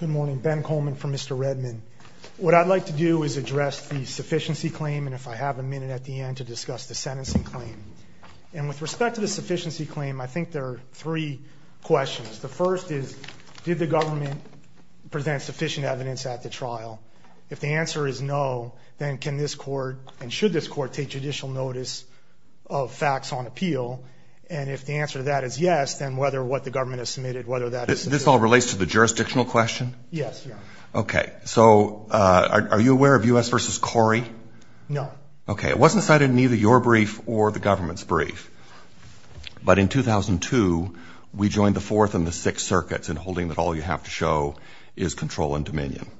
Good morning, Ben Coleman from Mr. Redmond. What I'd like to do is address the sufficiency claim and if I have a minute at the end to discuss the sentencing claim. And with respect to the sufficiency claim, I think there are three questions. The first is, did the government present sufficient evidence at the trial? If the answer is no, then can this court and should this court take judicial notice of facts on appeal? And if the answer to that is yes, then whether what the government has submitted, whether that is... Is that in place to the jurisdictional question? Yes. Okay. So are you aware of U.S. v. Corey? No. Okay. It wasn't cited in either your brief or the government's brief. But in 2002, we joined the Fourth and the Sixth Circuits in holding that all you have to show is control and dominion.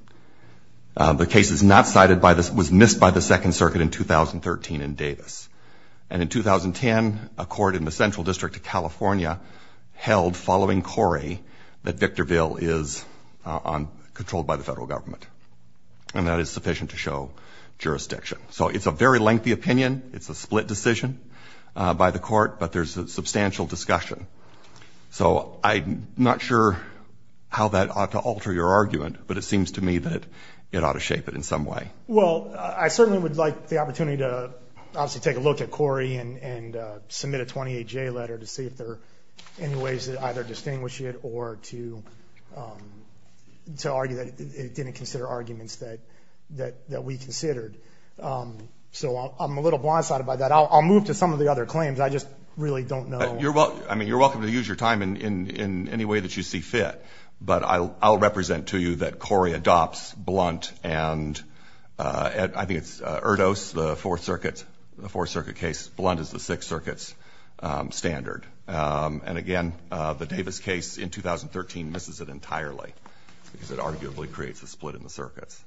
The case was missed by the Second Circuit in 2013 in Davis. And in 2010, a court in the Central District of California held, following Corey, that Victorville is controlled by the federal government. And that is sufficient to show jurisdiction. So it's a very lengthy opinion. It's a split decision by the court, but there's substantial discussion. So I'm not sure how that ought to alter your argument, but it seems to me that it ought to shape it in some way. Well, I certainly would like the opportunity to obviously take a look at Corey and submit a 28-J letter to see if there are any ways to either distinguish it or to argue that it didn't consider arguments that we considered. So I'm a little blindsided by that. I'll move to some of the other claims. I just really don't know. I mean, you're welcome to use your time in any way that you see fit. But I'll represent to you that Corey adopts Blunt and I think it's Erdos, the Fourth Circuit case. Blunt is the Sixth Circuit's standard. And again, the Davis case in 2013 misses it entirely because it arguably creates a split in the circuits.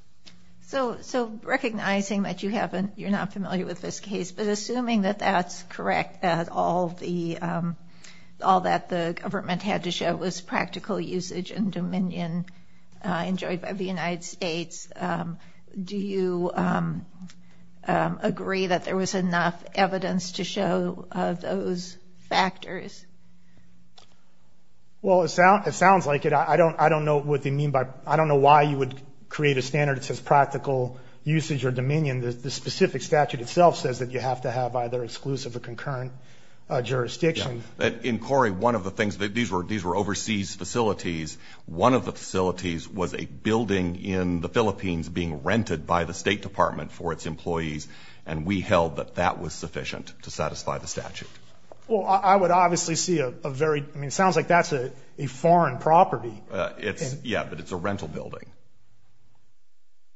So recognizing that you're not familiar with this case, but assuming that that's correct, that all that the government had to show was practical usage and dominion enjoyed by the United States, do you agree that there was enough evidence to show those factors? Well, it sounds like it. I don't know why you would create a standard that says practical usage or dominion. I mean, the specific statute itself says that you have to have either exclusive or concurrent jurisdiction. In Corey, one of the things, these were overseas facilities. One of the facilities was a building in the Philippines being rented by the State Department for its employees, and we held that that was sufficient to satisfy the statute. Well, I would obviously see a very, I mean, it sounds like that's a foreign property. Yeah, but it's a rental building.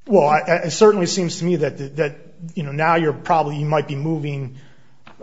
Well, it certainly seems to me that, you know, now you're probably, you might be moving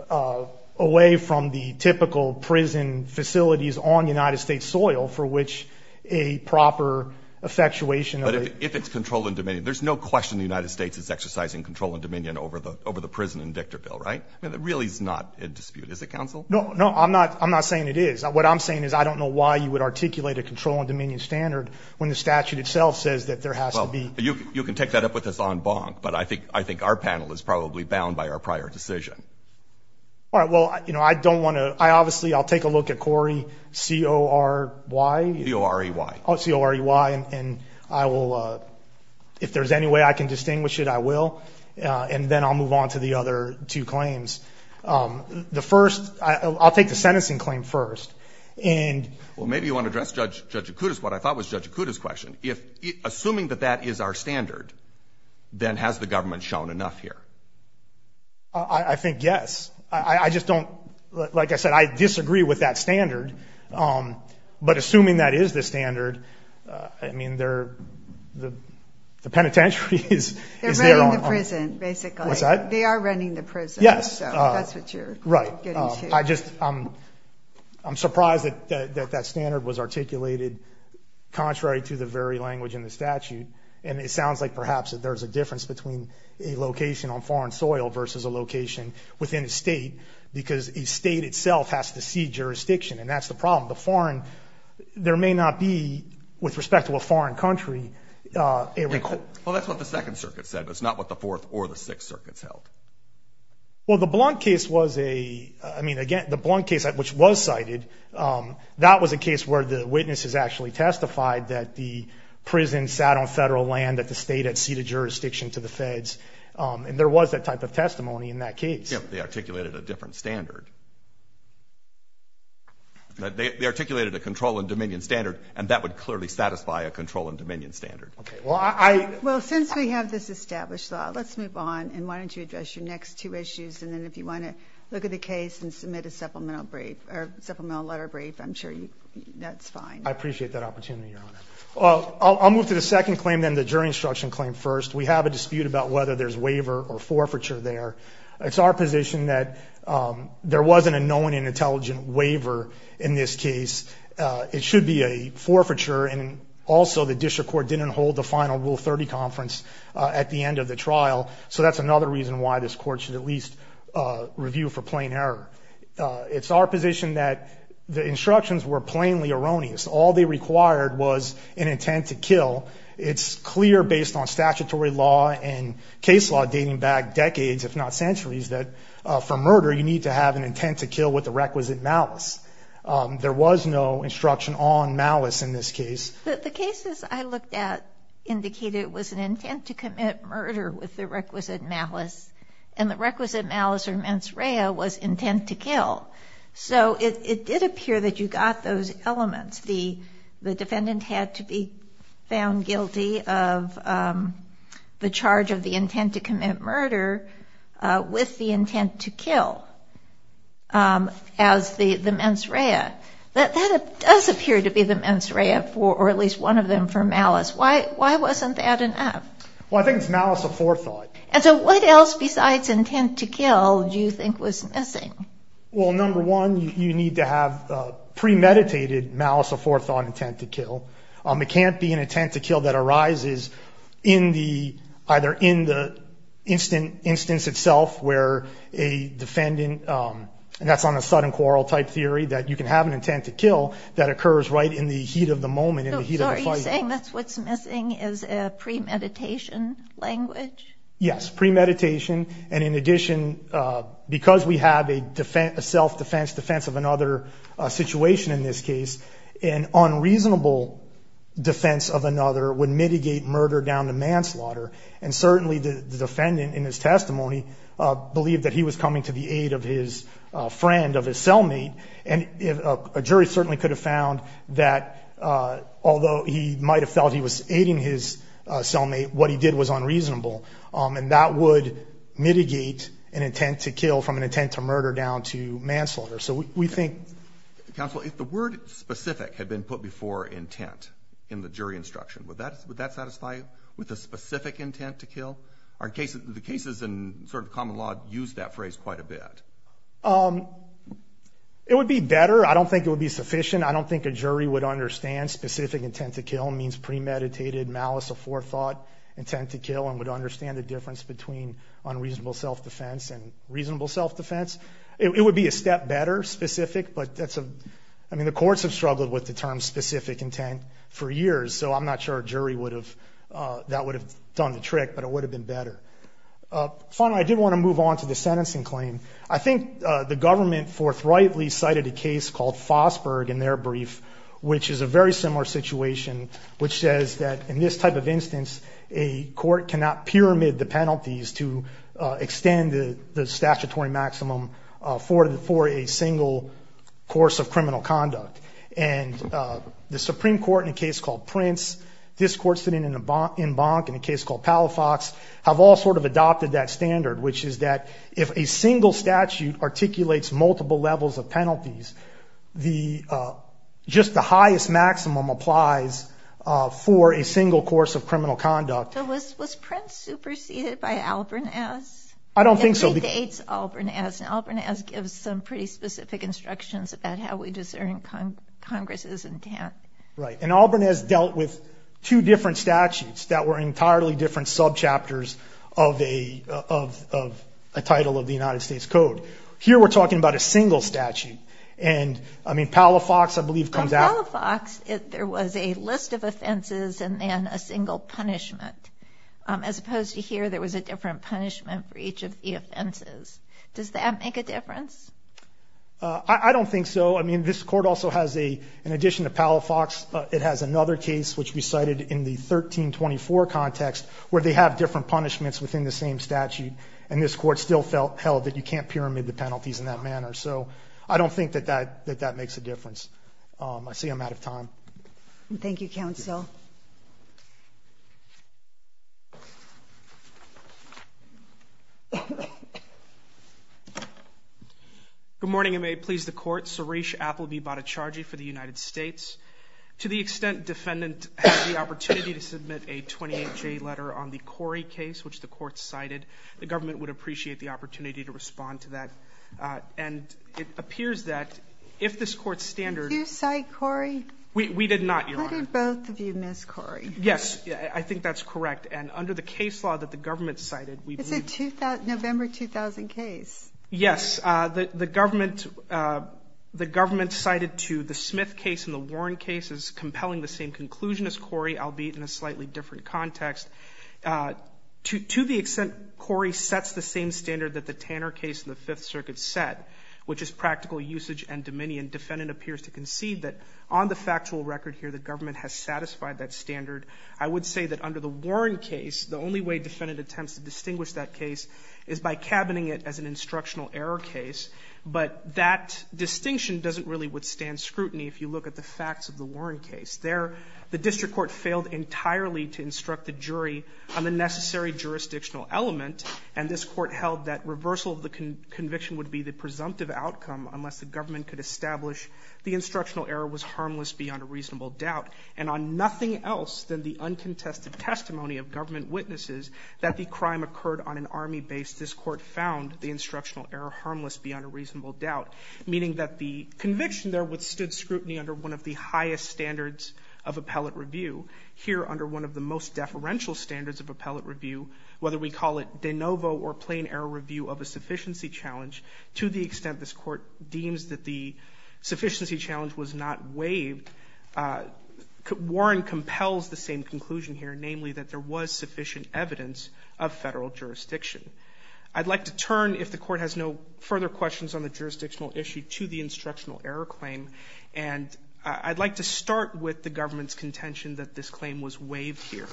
away from the typical prison facilities on United States soil for which a proper effectuation. But if it's control and dominion, there's no question the United States is exercising control and dominion over the prison in Victorville, right? I mean, that really is not in dispute, is it, counsel? No, no, I'm not saying it is. What I'm saying is I don't know why you would articulate a control and dominion standard when the statute itself says that there has to be. Well, you can take that up with us en banc, but I think our panel is probably bound by our prior decision. All right, well, you know, I don't want to, I obviously, I'll take a look at Corey, C-O-R-E-Y. C-O-R-E-Y. C-O-R-E-Y, and I will, if there's any way I can distinguish it, I will, and then I'll move on to the other two claims. The first, I'll take the sentencing claim first. Well, maybe you want to address Judge Acutis what I thought was Judge Acutis' question. Assuming that that is our standard, then has the government shown enough here? I think yes. I just don't, like I said, I disagree with that standard. But assuming that is the standard, I mean, the penitentiary is. They're running the prison, basically. What's that? They are running the prison. Yes. That's what you're getting to. Right. I just, I'm surprised that that standard was articulated contrary to the very language in the statute, and it sounds like perhaps there's a difference between a location on foreign soil versus a location within a state, because a state itself has to see jurisdiction, and that's the problem. The foreign, there may not be, with respect to a foreign country, a record. Well, that's what the Second Circuit said, but it's not what the Fourth or the Sixth Circuits held. Well, the Blount case was a, I mean, again, the Blount case, which was cited, that was a case where the witnesses actually testified that the prison sat on federal land, that the state had ceded jurisdiction to the feds, and there was that type of testimony in that case. Yes, but they articulated a different standard. They articulated a control and dominion standard, and that would clearly satisfy a control and dominion standard. Okay. Well, I. Well, since we have this established law, let's move on, and why don't you address your next two issues, and then if you want to look at the case and submit a supplemental brief, or supplemental letter brief, I'm sure that's fine. I appreciate that opportunity, Your Honor. Well, I'll move to the second claim then, the jury instruction claim first. We have a dispute about whether there's waiver or forfeiture there. It's our position that there wasn't a known and intelligent waiver in this case. It should be a forfeiture, and also the district court didn't hold the final Rule 30 conference at the end of the trial, so that's another reason why this court should at least review for plain error. It's our position that the instructions were plainly erroneous. All they required was an intent to kill. It's clear based on statutory law and case law dating back decades, if not centuries, that for murder you need to have an intent to kill with the requisite malice. There was no instruction on malice in this case. The cases I looked at indicated it was an intent to commit murder with the requisite malice, and the requisite malice or mens rea was intent to kill. So it did appear that you got those elements. The defendant had to be found guilty of the charge of the intent to commit murder with the intent to kill. That does appear to be the mens rea, or at least one of them, for malice. Why wasn't that enough? Well, I think it's malice of forethought. And so what else besides intent to kill do you think was missing? Well, number one, you need to have premeditated malice of forethought intent to kill. It can't be an intent to kill that arises either in the instance itself where a defendant, and that's on a sudden quarrel type theory, that you can have an intent to kill that occurs right in the heat of the moment, in the heat of the fight. So are you saying that's what's missing is a premeditation language? Yes, premeditation. And in addition, because we have a self-defense, defense of another situation in this case, an unreasonable defense of another would mitigate murder down to manslaughter. And certainly the defendant in his testimony believed that he was coming to the aid of his friend, of his cellmate. And a jury certainly could have found that although he might have felt he was aiding his cellmate, what he did was unreasonable. And that would mitigate an intent to kill from an intent to murder down to manslaughter. So we think — Counsel, if the word specific had been put before intent in the jury instruction, would that satisfy you? With a specific intent to kill? The cases in sort of common law use that phrase quite a bit. It would be better. I don't think it would be sufficient. I don't think a jury would understand specific intent to kill means premeditated malice of forethought, intent to kill, and would understand the difference between unreasonable self-defense and reasonable self-defense. It would be a step better, specific, but that's a — I mean, the courts have struggled with the term specific intent for years, so I'm not sure a jury would have — that would have done the trick, but it would have been better. Finally, I did want to move on to the sentencing claim. I think the government forthrightly cited a case called Fosberg in their brief, which is a very similar situation, which says that in this type of instance, a court cannot pyramid the penalties to extend the statutory maximum for a single course of criminal conduct. And the Supreme Court, in a case called Prince, this court sitting in Bonk, in a case called Palafox, have all sort of adopted that standard, which is that if a single statute articulates multiple levels of penalties, just the highest maximum applies for a single course of criminal conduct. So was Prince superseded by Albernaz? I don't think so. It dates Albernaz, and Albernaz gives some pretty specific instructions about how we discern Congress's intent. Right, and Albernaz dealt with two different statutes that were entirely different subchapters of a title of the United States Code. Here we're talking about a single statute, and, I mean, Palafox, I believe, comes out — On Palafox, there was a list of offenses and then a single punishment, as opposed to here, there was a different punishment for each of the offenses. Does that make a difference? I don't think so. I mean, this court also has a — in addition to Palafox, it has another case, which we cited in the 1324 context, where they have different punishments within the same statute, and this court still held that you can't pyramid the penalties in that manner. So I don't think that that makes a difference. I see I'm out of time. Thank you, Counsel. Good morning, and may it please the Court. Suresh Appleby Bhattacharjee for the United States. To the extent defendant has the opportunity to submit a 28-J letter on the Corey case, which the Court cited, the government would appreciate the opportunity to respond to that, and it appears that if this Court's standard — Do you cite Corey? We did not, Your Honor. What did both of you miss, Corey? Yes, I think that's correct, and under the case law that the government cited, we believe — It's a November 2000 case. Yes. The government cited to the Smith case and the Warren case is compelling the same conclusion as Corey, albeit in a slightly different context. To the extent Corey sets the same standard that the Tanner case in the Fifth Circuit set, which is practical usage and dominion, defendant appears to concede that on the factual record here, the government has satisfied that standard. I would say that under the Warren case, the only way defendant attempts to distinguish that case is by cabining it as an instructional error case, but that distinction doesn't really withstand scrutiny if you look at the facts of the Warren case. There, the district court failed entirely to instruct the jury on the necessary jurisdictional element, and this court held that reversal of the conviction would be the presumptive outcome unless the government could establish the instructional error was harmless beyond a reasonable doubt. And on nothing else than the uncontested testimony of government witnesses that the crime occurred on an Army base, this court found the instructional error harmless beyond a reasonable doubt, meaning that the conviction there withstood scrutiny under one of the highest standards of appellate review. Here, under one of the most deferential standards of appellate review, whether we call it de novo or plain error review of a sufficiency challenge, to the extent this court deems that the sufficiency challenge was not waived, Warren compels the same conclusion here, namely that there was sufficient evidence of Federal jurisdiction. I'd like to turn, if the Court has no further questions on the jurisdictional issue, to the instructional error claim. And I'd like to start with the government's contention that this claim was waived here.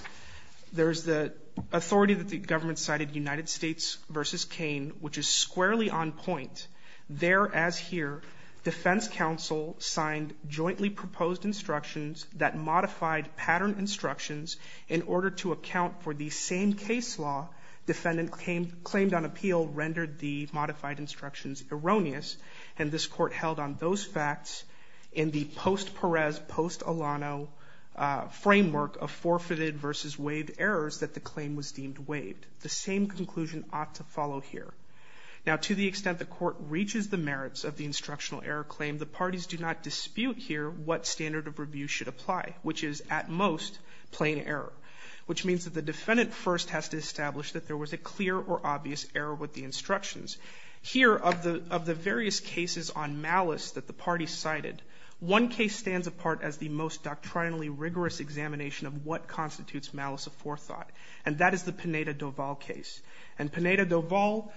There's the authority that the government cited, United States v. Cain, which is squarely on point. There, as here, defense counsel signed jointly proposed instructions that modified patterned instructions in order to account for the same case law defendant claimed on appeal rendered the modified instructions erroneous. And this court held on those facts in the post-Perez, post-Alano framework of forfeited versus waived errors that the claim was deemed waived. The same conclusion ought to follow here. Now, to the extent the court reaches the merits of the instructional error claim, the parties do not dispute here what standard of review should apply, which is, at most, plain error, which means that the defendant first has to establish that there was a clear or obvious error with the instructions. Here, of the various cases on malice that the parties cited, one case stands apart as the most doctrinally rigorous examination of what constitutes malice of forethought, and that is the Pineda-Dovall case. And Pineda-Dovall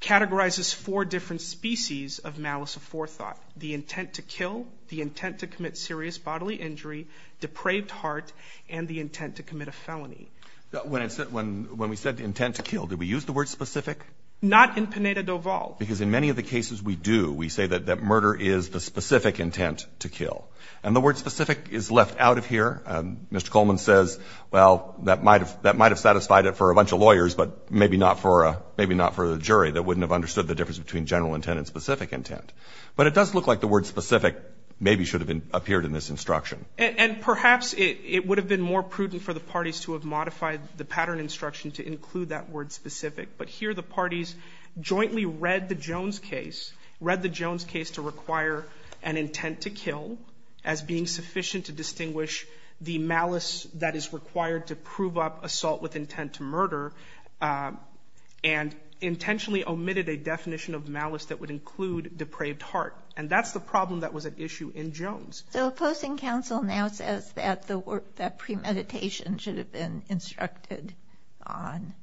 categorizes four different species of malice of forethought, the intent to kill, the intent to commit serious bodily injury, depraved heart, and the intent to commit a felony. When we said intent to kill, did we use the word specific? Not in Pineda-Dovall. Because in many of the cases we do, we say that murder is the specific intent to kill. And the word specific is left out of here. Mr. Coleman says, well, that might have satisfied it for a bunch of lawyers, but maybe not for a jury that wouldn't have understood the difference between general intent and specific intent. But it does look like the word specific maybe should have appeared in this instruction. And perhaps it would have been more prudent for the parties to have modified the pattern instruction to include that word specific. But here the parties jointly read the Jones case, read the Jones case to require an intent to kill as being sufficient to distinguish the malice that is required to prove up assault with intent to murder, and intentionally omitted a definition of malice that would include depraved heart. And that's the problem that was at issue in Jones. So opposing counsel now says that premeditation should have been instructed on.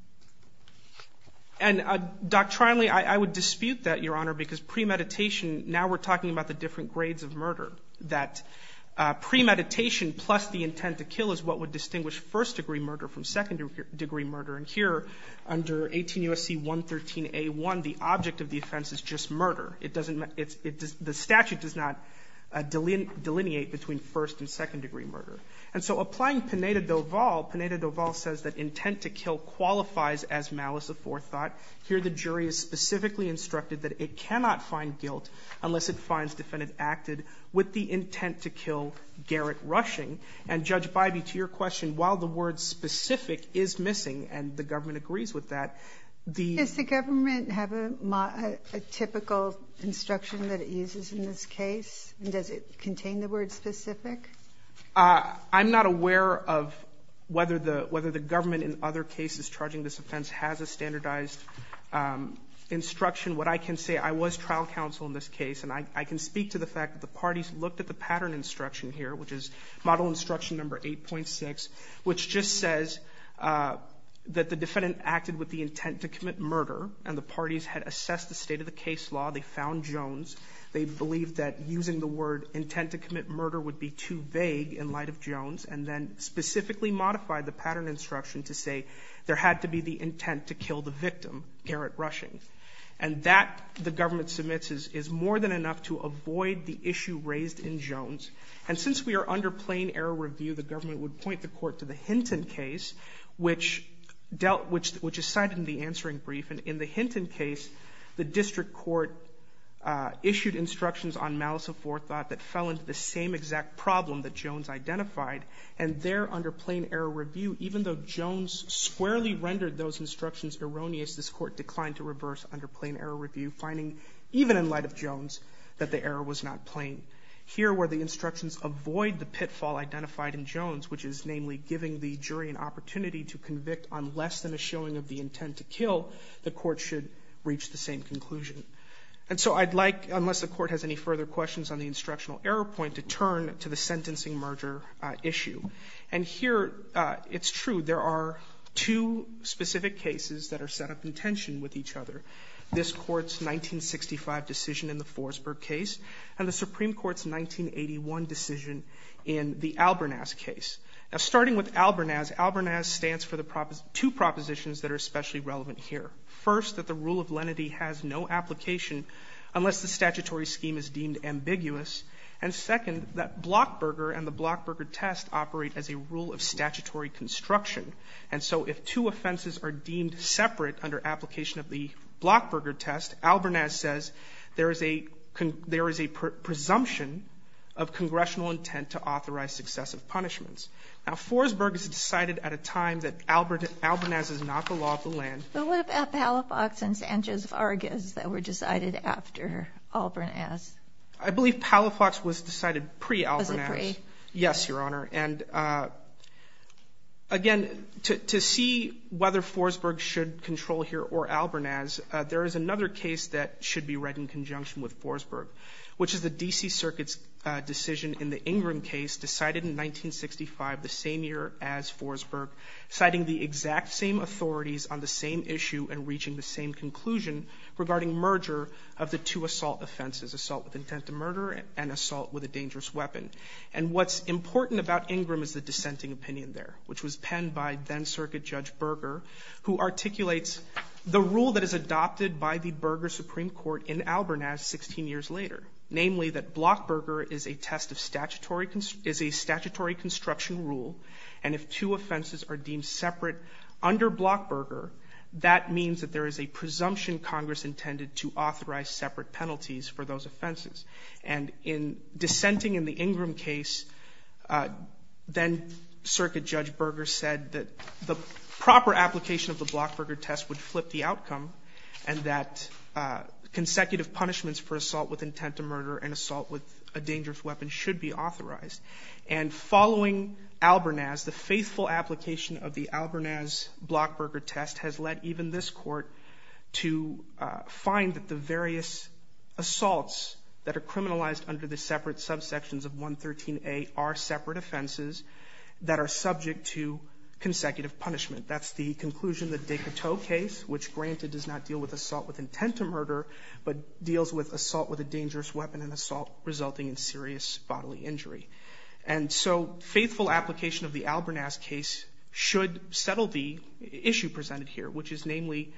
And doctrinally, I would dispute that, Your Honor, because premeditation now we're talking about the different grades of murder. That premeditation plus the intent to kill is what would distinguish first degree murder from second degree murder. And here under 18 U.S.C. 113a1, the object of the offense is just murder. It doesn't the statute does not delineate between first and second degree murder. And so applying Pineda-Dovall, Pineda-Dovall says that intent to kill qualifies as malice of forethought. Here the jury is specifically instructed that it cannot find guilt unless it finds defendant acted with the intent to kill Garrett Rushing. And, Judge Biby, to your question, while the word specific is missing, and the government agrees with that, the ---- instruction that it uses in this case, does it contain the word specific? I'm not aware of whether the government in other cases charging this offense has a standardized instruction. What I can say, I was trial counsel in this case, and I can speak to the fact that the parties looked at the pattern instruction here, which is Model Instruction No. 8.6, which just says that the defendant acted with the intent to commit murder, and the parties had assessed the state of the case law. They found Jones. They believed that using the word intent to commit murder would be too vague in light of Jones, and then specifically modified the pattern instruction to say there had to be the intent to kill the victim, Garrett Rushing. And that, the government submits, is more than enough to avoid the issue raised in Jones. In the Hinton case, which is cited in the answering brief, and in the Hinton case, the district court issued instructions on malice of forethought that fell into the same exact problem that Jones identified, and there, under plain error review, even though Jones squarely rendered those instructions erroneous, this court declined to reverse under plain error review, finding, even in light of Jones, that the error was not plain. Here were the instructions avoid the pitfall identified in Jones, which is namely giving the jury an opportunity to convict on less than a showing of the intent to kill. The court should reach the same conclusion. And so I'd like, unless the court has any further questions on the instructional error point, to turn to the sentencing merger issue. And here, it's true. There are two specific cases that are set up in tension with each other, this court's 1965 decision in the Forsberg case, and the Supreme Court's 1981 decision in the Albernaz case. Now, starting with Albernaz, Albernaz stands for the two propositions that are especially relevant here. First, that the rule of lenity has no application unless the statutory scheme is deemed ambiguous. And second, that Blockberger and the Blockberger test operate as a rule of statutory construction. And so if two offenses are deemed separate under application of the Blockberger test, Albernaz says there is a presumption of congressional intent that the state has no intent to authorize successive punishments. Now, Forsberg is decided at a time that Albernaz is not the law of the land. But what about Palafox and Sanchez-Vargas that were decided after Albernaz? I believe Palafox was decided pre-Albernaz. Was it pre? Yes, Your Honor. And again, to see whether Forsberg should control here or Albernaz, there is another case that should be read in conjunction with Forsberg, which is the D.C. Circuit's decision in the Ingram case decided in 1965, the same year as Forsberg, citing the exact same authorities on the same issue and reaching the same conclusion regarding merger of the two assault offenses, assault with intent to murder and assault with a dangerous weapon. And what's important about Ingram is the dissenting opinion there, which was penned by then-Circuit Judge Berger, who articulates the rule that is adopted by the Berger Supreme Court in Albernaz 16 years later. Namely, that Blockberger is a statutory construction rule, and if two offenses are deemed separate under Blockberger, that means that there is a presumption Congress intended to authorize separate penalties for those offenses. And in dissenting in the Ingram case, then-Circuit Judge Berger said that the proper application of the Blockberger test would flip the outcome and that consecutive punishments for assault with intent to murder and assault with a dangerous weapon should be authorized. And following Albernaz, the faithful application of the Albernaz-Blockberger test has led even this Court to find that the various assaults that are criminalized under the separate subsections of 113A are separate offenses that are subject to consecutive punishment. That's the conclusion of the Decoteau case, which granted does not deal with assault with intent to murder, but deals with assault with a dangerous weapon and assault resulting in serious bodily injury. And so faithful application of the Albernaz case should settle the issue presented here, which is namely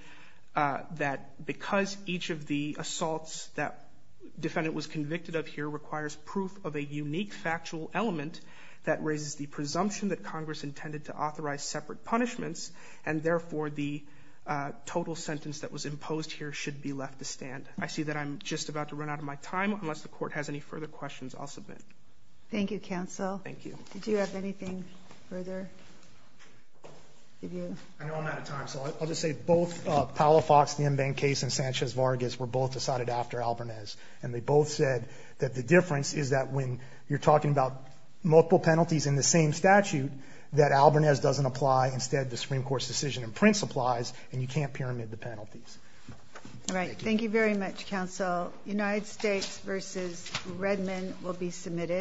that because each of the assaults that defendant was convicted of here requires proof of a unique factual element that raises the presumption that Congress intended to authorize separate punishments, and therefore the total sentence that was imposed here should be left to stand. I see that I'm just about to run out of my time. Unless the Court has any further questions, I'll submit. Thank you, counsel. Thank you. Did you have anything further? I know I'm out of time, so I'll just say both Powell-Fox, the Mbank case, and Sanchez-Vargas were both decided after Albernaz, and they both said that the difference is that when you're talking about multiple penalties in the same statute that Albernaz doesn't apply. Instead, the Supreme Court's decision in Prince applies, and you can't pyramid the penalties. All right. Thank you very much, counsel. United States v. Redmond will be submitted.